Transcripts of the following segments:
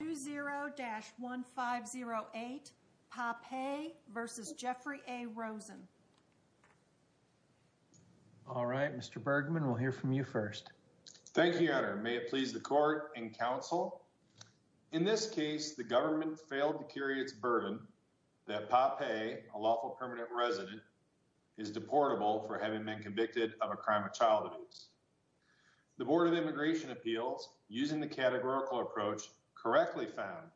All right, Mr. Bergman, we'll hear from you first. Thank you, Your Honor. May it please the court and counsel, in this case, the government failed to carry its burden that Pah Peh, a lawful permanent resident, is deportable for having been convicted of a crime of child abuse. The Board of Immigration Appeals, using the categorical approach, correctly found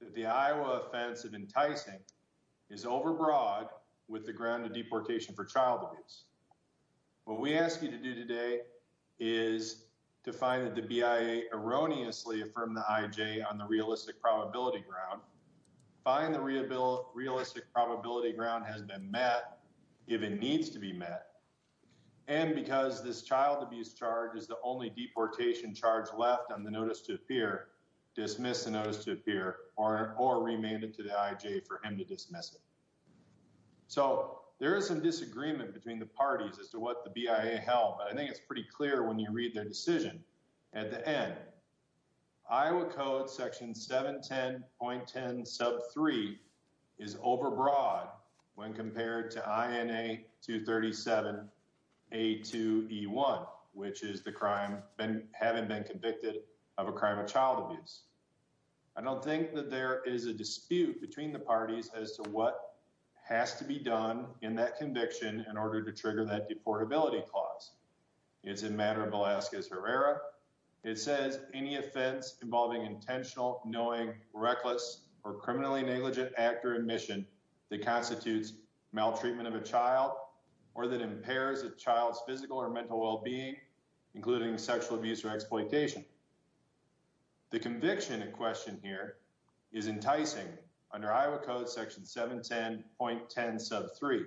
that the Iowa offense of enticing is overbroad with the ground of deportation for child abuse. What we ask you to do today is to find that the BIA erroneously affirmed the IJ on the realistic probability ground, find the realistic probability ground has been met, if it needs to be met, and because this child abuse charge is the only deportation charge left on the notice to appear, dismiss the notice to appear or remand it to the IJ for him to dismiss it. So there is some disagreement between the parties as to what the BIA held, but I think it's pretty clear when you read their decision at the end. Iowa Code section 710.10 sub 3 is overbroad when compared to INA 237 A2E1, which is the crime having been convicted of a crime of child abuse. I don't think that there is a dispute between the parties as to what has to be done in that conviction in order to trigger that deportability clause. It's a matter of Velasquez Herrera. It says any offense involving intentional, knowing, reckless, or criminally negligent actor admission that constitutes maltreatment of a child or that impairs a child's physical or mental well-being, including sexual abuse or exploitation. The conviction in question here is enticing under Iowa Code section 710.10 sub 3.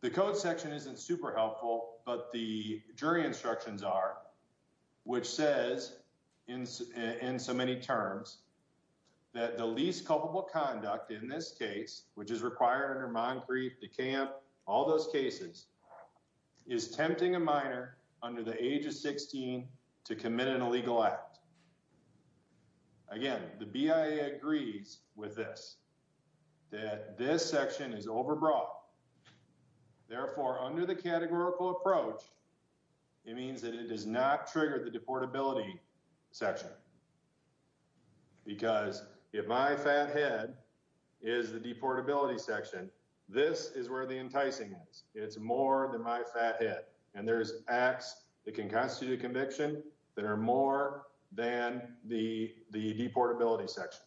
The code section isn't super helpful, but the jury instructions are, which says in so many terms that the least culpable conduct in this case, which is required under Moncrief, DeKalb, all those cases, is tempting a minor under the age of 16 to commit an illegal act. Again, the BIA agrees with this, that this section is overbroad. Therefore, under the categorical approach, it means that it does not trigger the deportability section because if my fat head is the deportability section, this is where the enticing is. It's more than my fat head, and there's acts that can constitute a conviction that are more than the deportability section.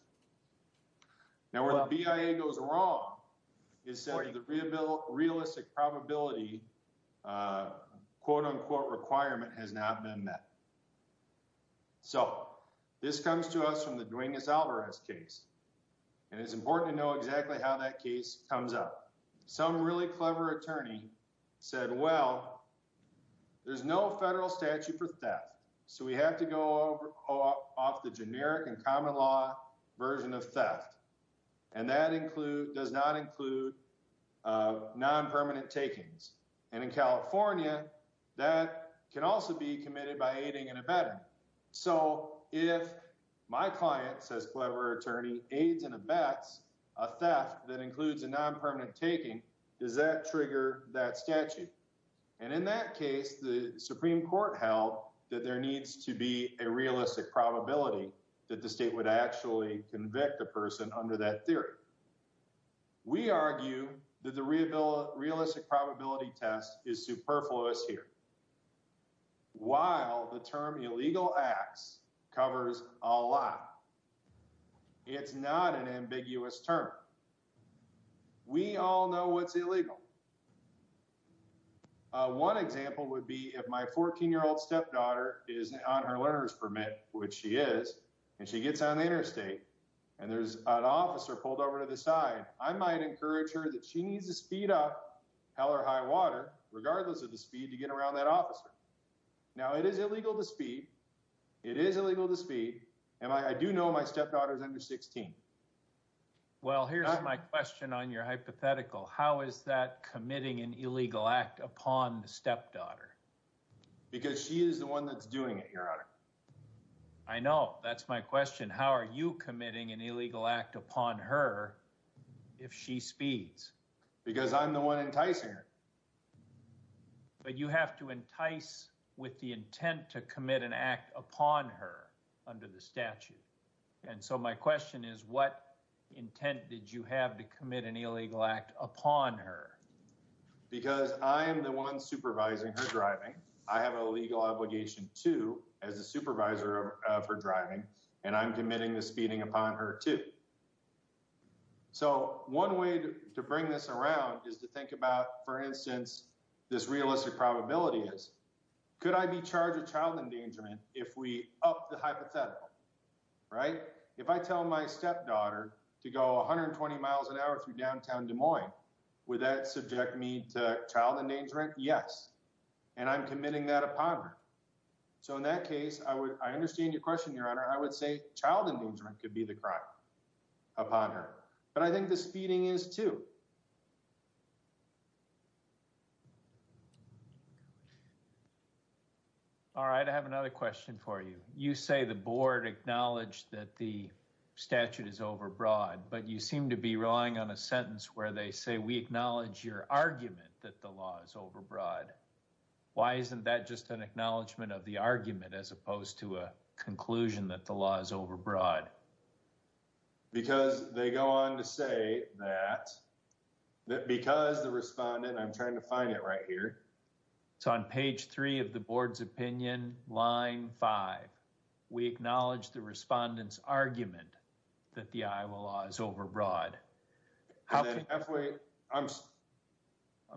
Now, where the BIA goes wrong, it says the realistic probability, quote unquote, requirement has not been met. So this comes to us from the Duenas-Alvarez case, and it's important to know exactly how that case comes up. Some really clever attorney said, well, there's no federal statute for theft, so we have to go off the generic and common law version of theft. And that does not include non-permanent takings. And in California, that can also be committed by aiding and abetting. So if my client, says clever attorney, aids and abets a theft that includes a non-permanent taking, does that trigger that statute? And in that case, the Supreme Court held that there needs to be a realistic probability that the state would actually convict a person under that theory. We argue that the realistic probability test is superfluous here. While the term illegal acts covers a lot, it's not an ambiguous term. We all know what's illegal. One example would be if my 14-year-old stepdaughter is on her learner's permit, which she is, and she gets on the interstate, and there's an officer pulled over to the side, I might encourage her that she needs to speed up, hell or high water, regardless of the speed, to get around that officer. Now, it is illegal to speed. It is illegal to speed. And I do know my stepdaughter is under 16. Well, here's my question on your hypothetical. How is that committing an illegal act upon the stepdaughter? Because she is the one that's doing it, Your Honor. I know. That's my question. How are you committing an illegal act upon her if she speeds? Because I'm the one enticing her. But you have to entice with the intent to commit an act upon her under the statute. And so my question is, what intent did you have to commit an illegal act upon her? Because I am the one supervising her driving. I have a legal obligation, too, as the supervisor of her driving. And I'm committing the speeding upon her, too. So one way to bring this around is to think about, for instance, this realistic probability is, could I be charged with child endangerment if we up the hypothetical? Right? If I tell my stepdaughter to go 120 miles an hour through downtown Des Moines, would that subject me to child endangerment? Yes. And I'm committing that upon her. So in that case, I understand your question, Your Honor. I would say child endangerment could be the crime upon her. But I think the speeding is, too. All right. I have another question for you. You say the board acknowledged that the statute is overbroad. But you seem to be relying on a sentence where they say, we acknowledge your argument that the law is overbroad. Why isn't that just an acknowledgement of the argument, as opposed to a conclusion that the law is overbroad? Because they go on to say that because the respondent, I'm trying to find it right here. It's on page three of the board's opinion, line five. We acknowledge the respondent's argument that the Iowa law is overbroad. I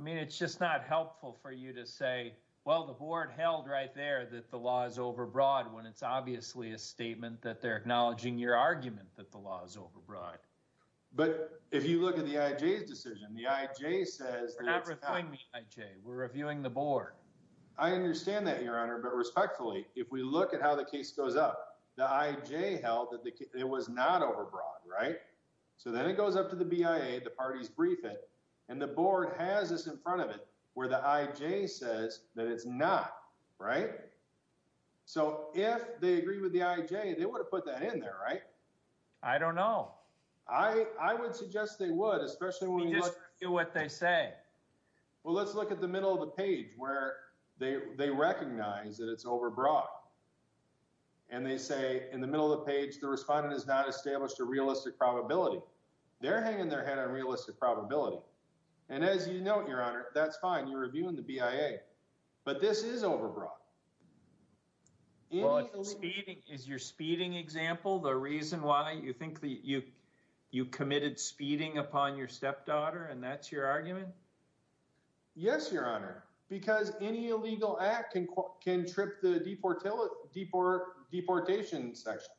mean, it's just not helpful for you to say, well, the board held right there that the law is overbroad, when it's obviously a statement that they're acknowledging your argument that the law is overbroad. But if you look at the IJ's decision, the IJ says... We're not reviewing the IJ. We're reviewing the board. I understand that, Your Honor. But respectfully, if we look at how the case goes up, the IJ held that it was not overbroad, right? So then it goes up to the BIA, the parties brief it, and the board has this in front of it where the IJ says that it's not, right? So if they agree with the IJ, they would have put that in there, right? I don't know. I would suggest they would, especially when you look... We just review what they say. Well, let's look at the middle of the page where they recognize that it's overbroad. And they say in the middle of the page, the respondent has not established a realistic probability. They're hanging their head on realistic probability. And as you note, Your Honor, that's fine. You're reviewing the BIA. But this is overbroad. Is your speeding example the reason why you think that you committed speeding upon your stepdaughter and that's your argument? Yes, Your Honor, because any illegal act can trip the deportation section.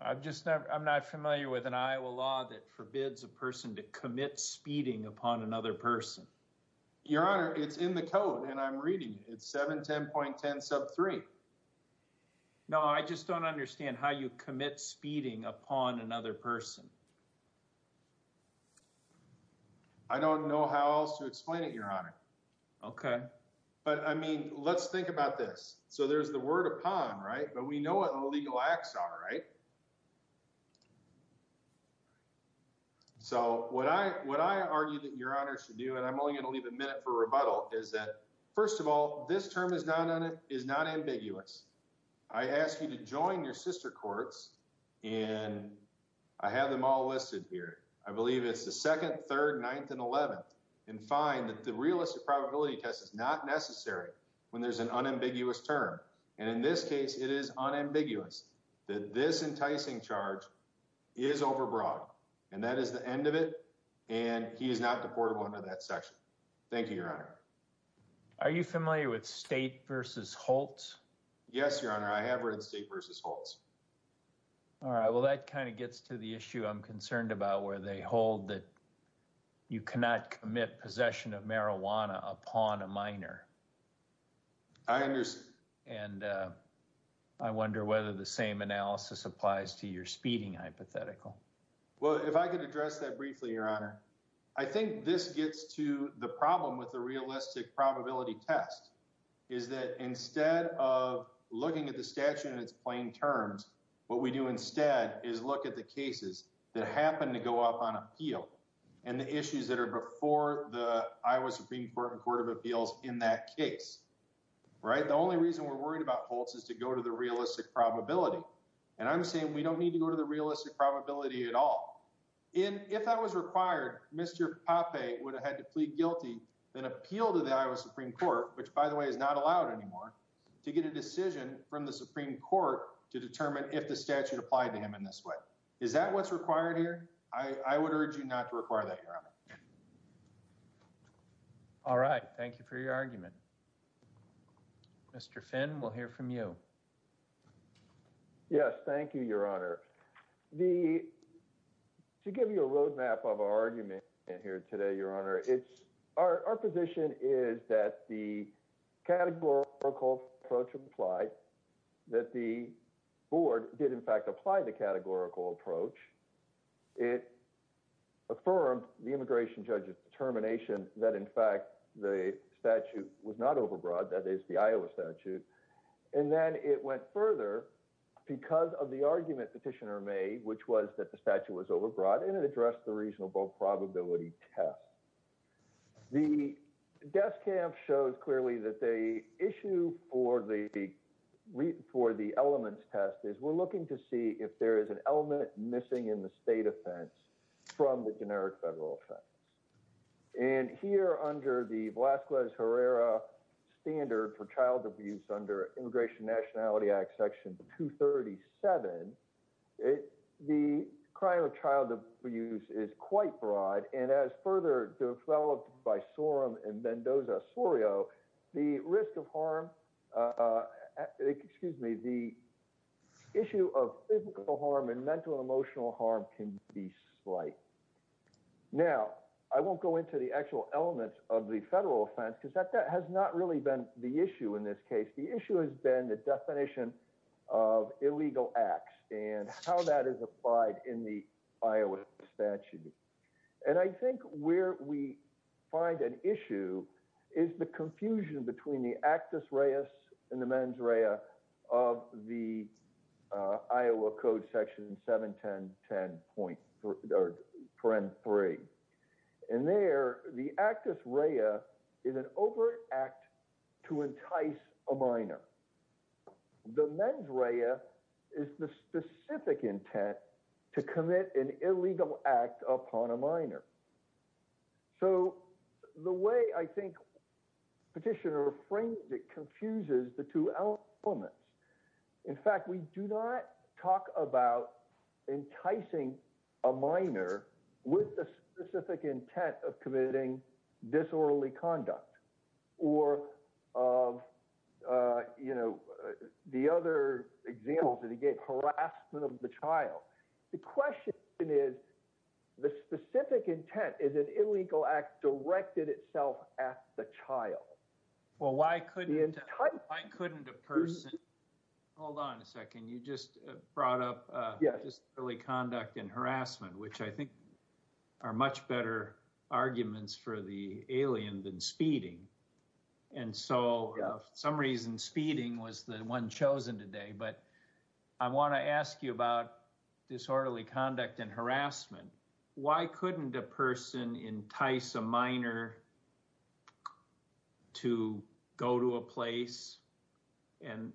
I'm not familiar with an Iowa law that forbids a person to commit speeding upon another person. Your Honor, it's in the code and I'm reading it. It's 710.10 sub 3. No, I just don't understand how you commit speeding upon another person. I don't know how else to explain it, Your Honor. OK. But, I mean, let's think about this. So there's the word upon, right? But we know what illegal acts are, right? So what I argue that Your Honor should do, and I'm only going to leave a minute for rebuttal, is that, first of all, this term is not ambiguous. I ask you to join your sister courts. And I have them all listed here. I believe it's the 2nd, 3rd, 9th, and 11th, and find that the realistic probability test is not necessary when there's an unambiguous term. And in this case, it is unambiguous that this enticing charge is overbroad. And that is the end of it. And he is not deportable under that section. Thank you, Your Honor. Are you familiar with State v. Holtz? Yes, Your Honor. I have read State v. Holtz. All right. Well, that kind of gets to the issue I'm concerned about, where they hold that you cannot commit possession of marijuana upon a minor. I understand. And I wonder whether the same analysis applies to your speeding hypothetical. Well, if I could address that briefly, Your Honor. I think this gets to the problem with the realistic probability test, is that instead of looking at the statute in its plain terms, what we do instead is look at the cases that happen to go up on appeal, and the issues that are before the Iowa Supreme Court and Court of Appeals in that case. Right? The only reason we're worried about Holtz is to go to the realistic probability. And I'm saying we don't need to go to the realistic probability at all. If that was required, Mr. Pape would have had to plead guilty, then appeal to the Iowa Supreme Court, which, by the way, is not allowed anymore, to get a decision from the Supreme Court to determine if the statute applied to him in this way. Is that what's required here? I would urge you not to require that, Your Honor. All right. Thank you for your argument. Mr. Finn, we'll hear from you. Yes, thank you, Your Honor. To give you a roadmap of our argument here today, Your Honor, our position is that the categorical approach applied, that the board did, in fact, apply the categorical approach. It affirmed the immigration judge's determination that, in fact, the statute was not overbroad, that is, the Iowa statute. And then it went further because of the argument petitioner made, which was that the statute was overbroad, and it addressed the reasonable probability test. The death camp shows clearly that the issue for the elements test is we're looking to see if there is an element missing in the state offense from the generic federal offense. And here, under the Velazquez-Herrera standard for child abuse under Immigration Nationality Section 237, the crime of child abuse is quite broad. And as further developed by Sorum and Mendoza-Sorio, the risk of harm, excuse me, the issue of physical harm and mental and emotional harm can be slight. Now, I won't go into the actual elements of the federal offense because that has not really been the issue in this case. The issue has been the definition of illegal acts and how that is applied in the Iowa statute. And I think where we find an issue is the confusion between the actus reus and the mens rea of the Iowa Code Section 710.3. And there, the actus rea is an overt act to entice a minor. The mens rea is the specific intent to commit an illegal act upon a minor. So the way I think Petitioner frames it confuses the two elements. In fact, we do not talk about enticing a minor with the specific intent of committing disorderly conduct or of, you know, the other examples that he gave, harassment of the child. The question is, the specific intent is an illegal act directed itself at the child. Well, why couldn't a person, hold on a second, you just brought up disorderly conduct and harassment, which I think are much better arguments for the alien than speeding. And so for some reason, speeding was the one chosen today. But I want to ask you about disorderly conduct and harassment. Why couldn't a person entice a minor to go to a place and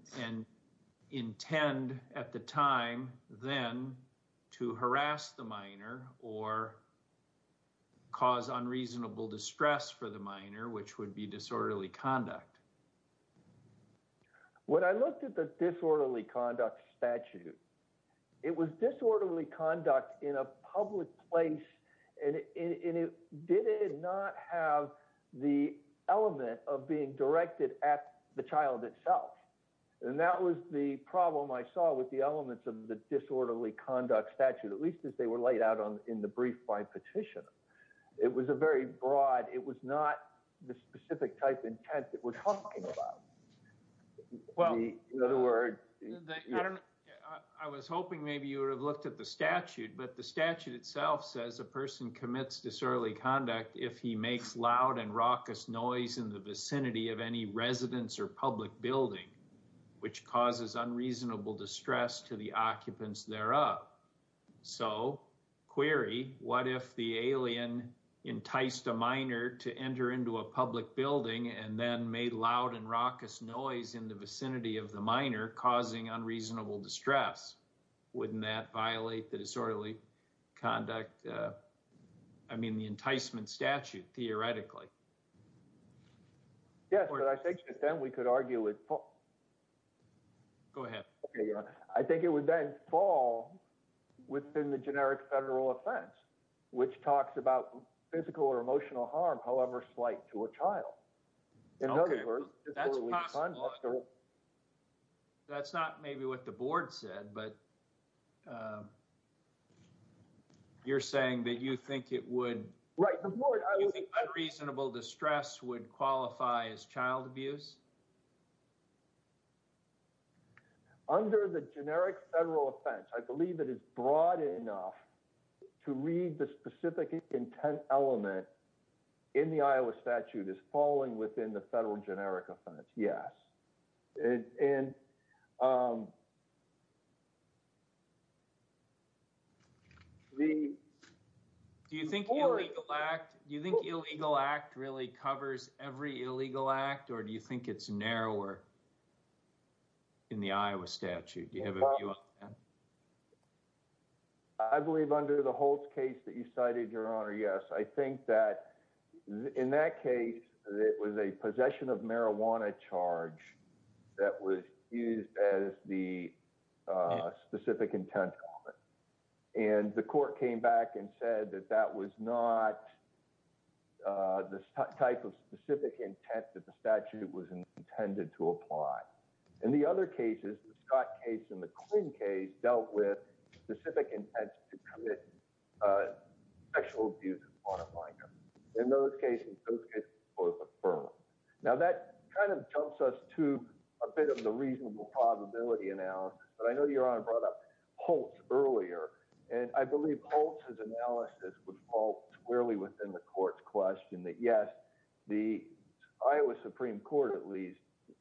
intend at the time then to harass the minor or cause unreasonable distress for the minor, which would be disorderly conduct? When I looked at the disorderly conduct statute, it was disorderly conduct in a public place. And it did not have the element of being directed at the child itself. And that was the problem I saw with the elements of the disorderly conduct statute, at least as they were laid out in the brief by Petitioner. It was a very broad, it was not the specific type intent that we're talking about. Well, in other words, I was hoping maybe you would have looked at the statute, but the statute itself says a person commits disorderly conduct if he makes loud and raucous noise in the vicinity of any residence or public building, which causes unreasonable distress to the occupants thereof. So query, what if the alien enticed a minor to enter into a public building and then made loud and raucous noise in the vicinity of the minor causing unreasonable distress? Wouldn't that violate the disorderly conduct, I mean, the enticement statute, theoretically? Yes, but I think that then we could argue it. Go ahead. I think it would then fall within the generic federal offense, which talks about physical or emotional harm, however slight, to a child. That's possible. That's not maybe what the board said, but you're saying that you think it would, you think unreasonable distress would qualify as child abuse? Under the generic federal offense, I believe it is broad enough to read the specific intent element in the Iowa statute as falling within the federal generic offense. Yes. Do you think illegal act really covers every illegal act, or do you think it's narrower in the Iowa statute? Do you have a view on that? I believe under the Holtz case that you cited, Your Honor, yes. I think that in that case, it was a possession of marijuana charge that was used as the specific intent element. And the court came back and said that that was not the type of specific intent that the statute was intended to apply. In the other cases, the Scott case and the Quinn case dealt with specific intents to commit sexual abuse of marijuana. In those cases, those cases were both affirmed. Now, that kind of jumps us to a bit of the reasonable probability analysis. But I know Your Honor brought up Holtz earlier, and I believe Holtz's analysis would fall squarely within the court's question that, yes, the Iowa Supreme Court, at least,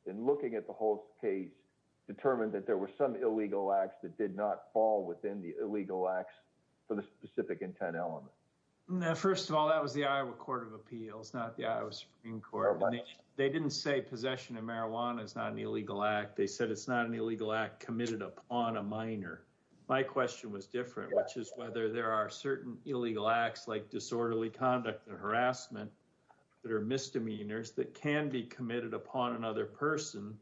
in looking at the Holtz case, determined that there were some illegal acts that did not fall within the illegal acts for the specific intent element. First of all, that was the Iowa Court of Appeals, not the Iowa Supreme Court. They didn't say possession of marijuana is not an illegal act. They said it's not an illegal act committed upon a minor. My question was different, which is whether there are certain illegal acts like disorderly conduct or harassment that are misdemeanors that can be committed upon another person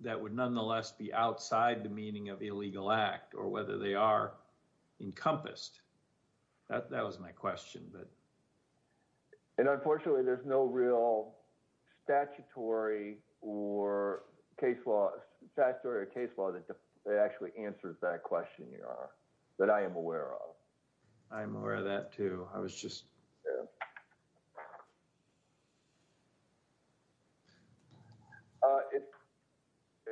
that would nonetheless be outside the meaning of illegal act, or whether they are encompassed. That was my question. And unfortunately, there's no real statutory or case law that actually answers that question, that I am aware of. I'm aware of that, too. I was just...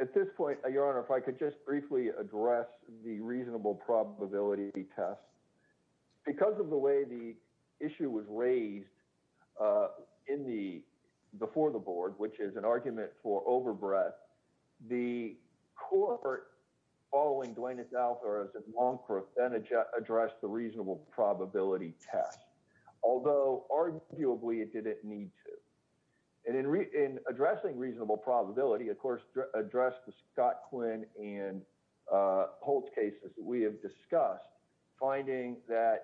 At this point, Your Honor, if I could just briefly address the reasonable probability test. Because of the way the issue was raised before the board, which is an argument for overbreath, the court, following Dwayne Adalpha and Longcroft, then addressed the reasonable probability test, although arguably it didn't need to. And in addressing reasonable probability, of course, addressed the Scott Quinn and Holtz cases that we have discussed, finding that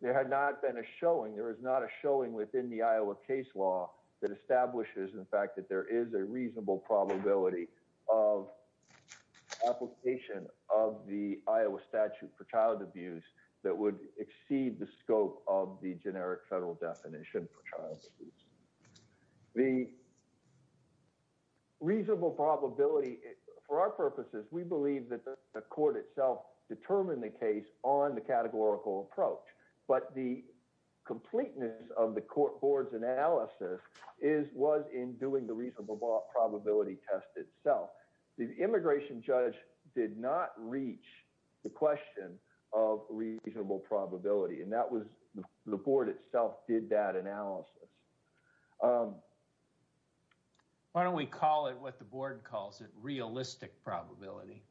there had not been a showing, there is not a showing within the Iowa case law that establishes the fact that there is a reasonable probability of application of the Iowa statute for child abuse that would exceed the scope of the generic federal definition for child abuse. The reasonable probability, for our purposes, we believe that the court itself determined the case on the categorical approach. But the completeness of the court board's analysis was in doing the reasonable probability test itself. The immigration judge did not reach the question of reasonable probability, and the board itself did that analysis. Why don't we call it what the board calls it, realistic probability?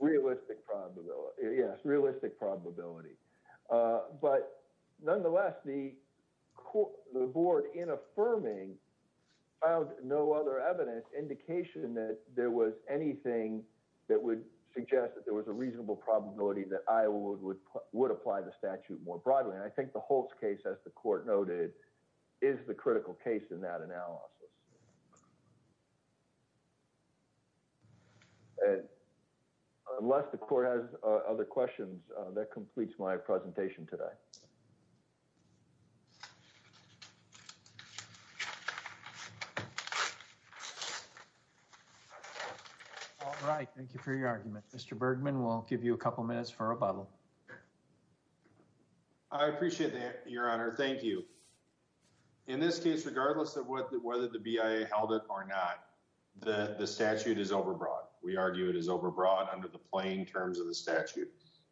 Realistic probability, yes, realistic probability. But nonetheless, the board, in affirming, found no other evidence, indication that there was anything that would suggest that there was a reasonable probability that Iowa would apply the statute more broadly. And I think the Holtz case, as the court noted, is the critical case in that analysis. Unless the court has other questions, that completes my presentation today. All right. Thank you for your argument. Mr. Bergman, we'll give you a couple minutes for a final comment. I appreciate that, Your Honor. Thank you. In this case, regardless of whether the BIA held it or not, the statute is overbroad. We argue it is overbroad under the plain terms of the statute.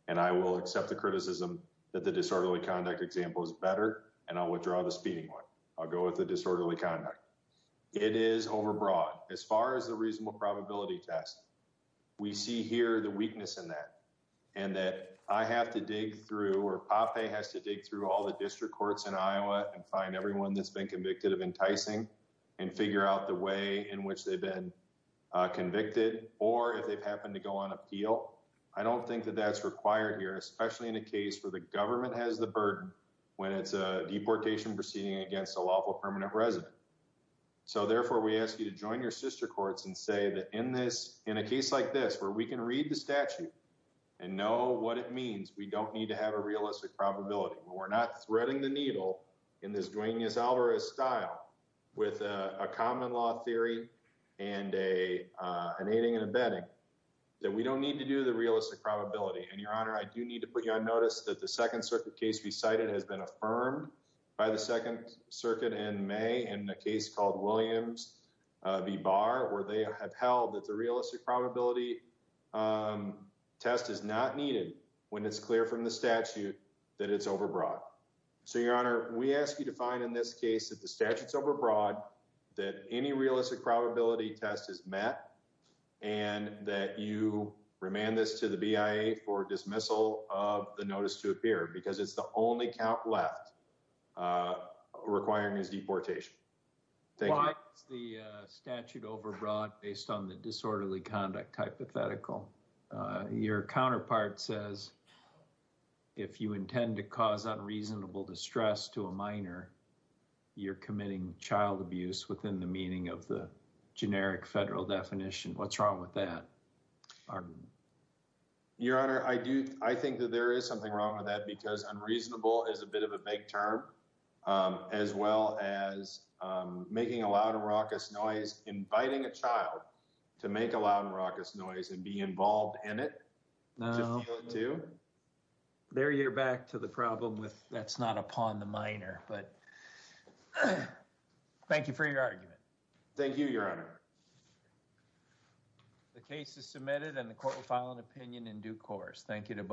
And I will accept the criticism that the disorderly conduct example is better, and I'll withdraw the speeding one. I'll go with the disorderly conduct. It is overbroad. As far as the reasonable probability test, we see here the weakness in that, and that I have to dig through, or Pape has to dig through all the district courts in Iowa, and find everyone that's been convicted of enticing, and figure out the way in which they've been convicted, or if they've happened to go on appeal. I don't think that that's required here, especially in a case where the government has the burden, when it's a deportation proceeding against a lawful permanent resident. So therefore, we ask you to join your sister courts and say that in a case like this, where we can read the statute and know what it means, we don't need to have a realistic probability. We're not threading the needle in this Dwayne Yisalvarez style with a common law theory, and an aiding and abetting, that we don't need to do the realistic probability. And Your Honor, I do need to put you on notice that the Second Circuit case we cited has been the realistic probability test is not needed when it's clear from the statute that it's overbroad. So Your Honor, we ask you to find in this case that the statute's overbroad, that any realistic probability test is met, and that you remand this to the BIA for dismissal of the notice to appear, because it's the only count left requiring his deportation. Why is the statute overbroad based on the disorderly conduct hypothetical? Your counterpart says, if you intend to cause unreasonable distress to a minor, you're committing child abuse within the meaning of the generic federal definition. What's wrong with that? Your Honor, I think that there is something wrong with that, because unreasonable is a bit of a making a loud and raucous noise, inviting a child to make a loud and raucous noise and be involved in it. There you're back to the problem with that's not upon the minor, but thank you for your argument. Thank you, Your Honor. The case is submitted and the court will file an opinion in due course. Thank you to both.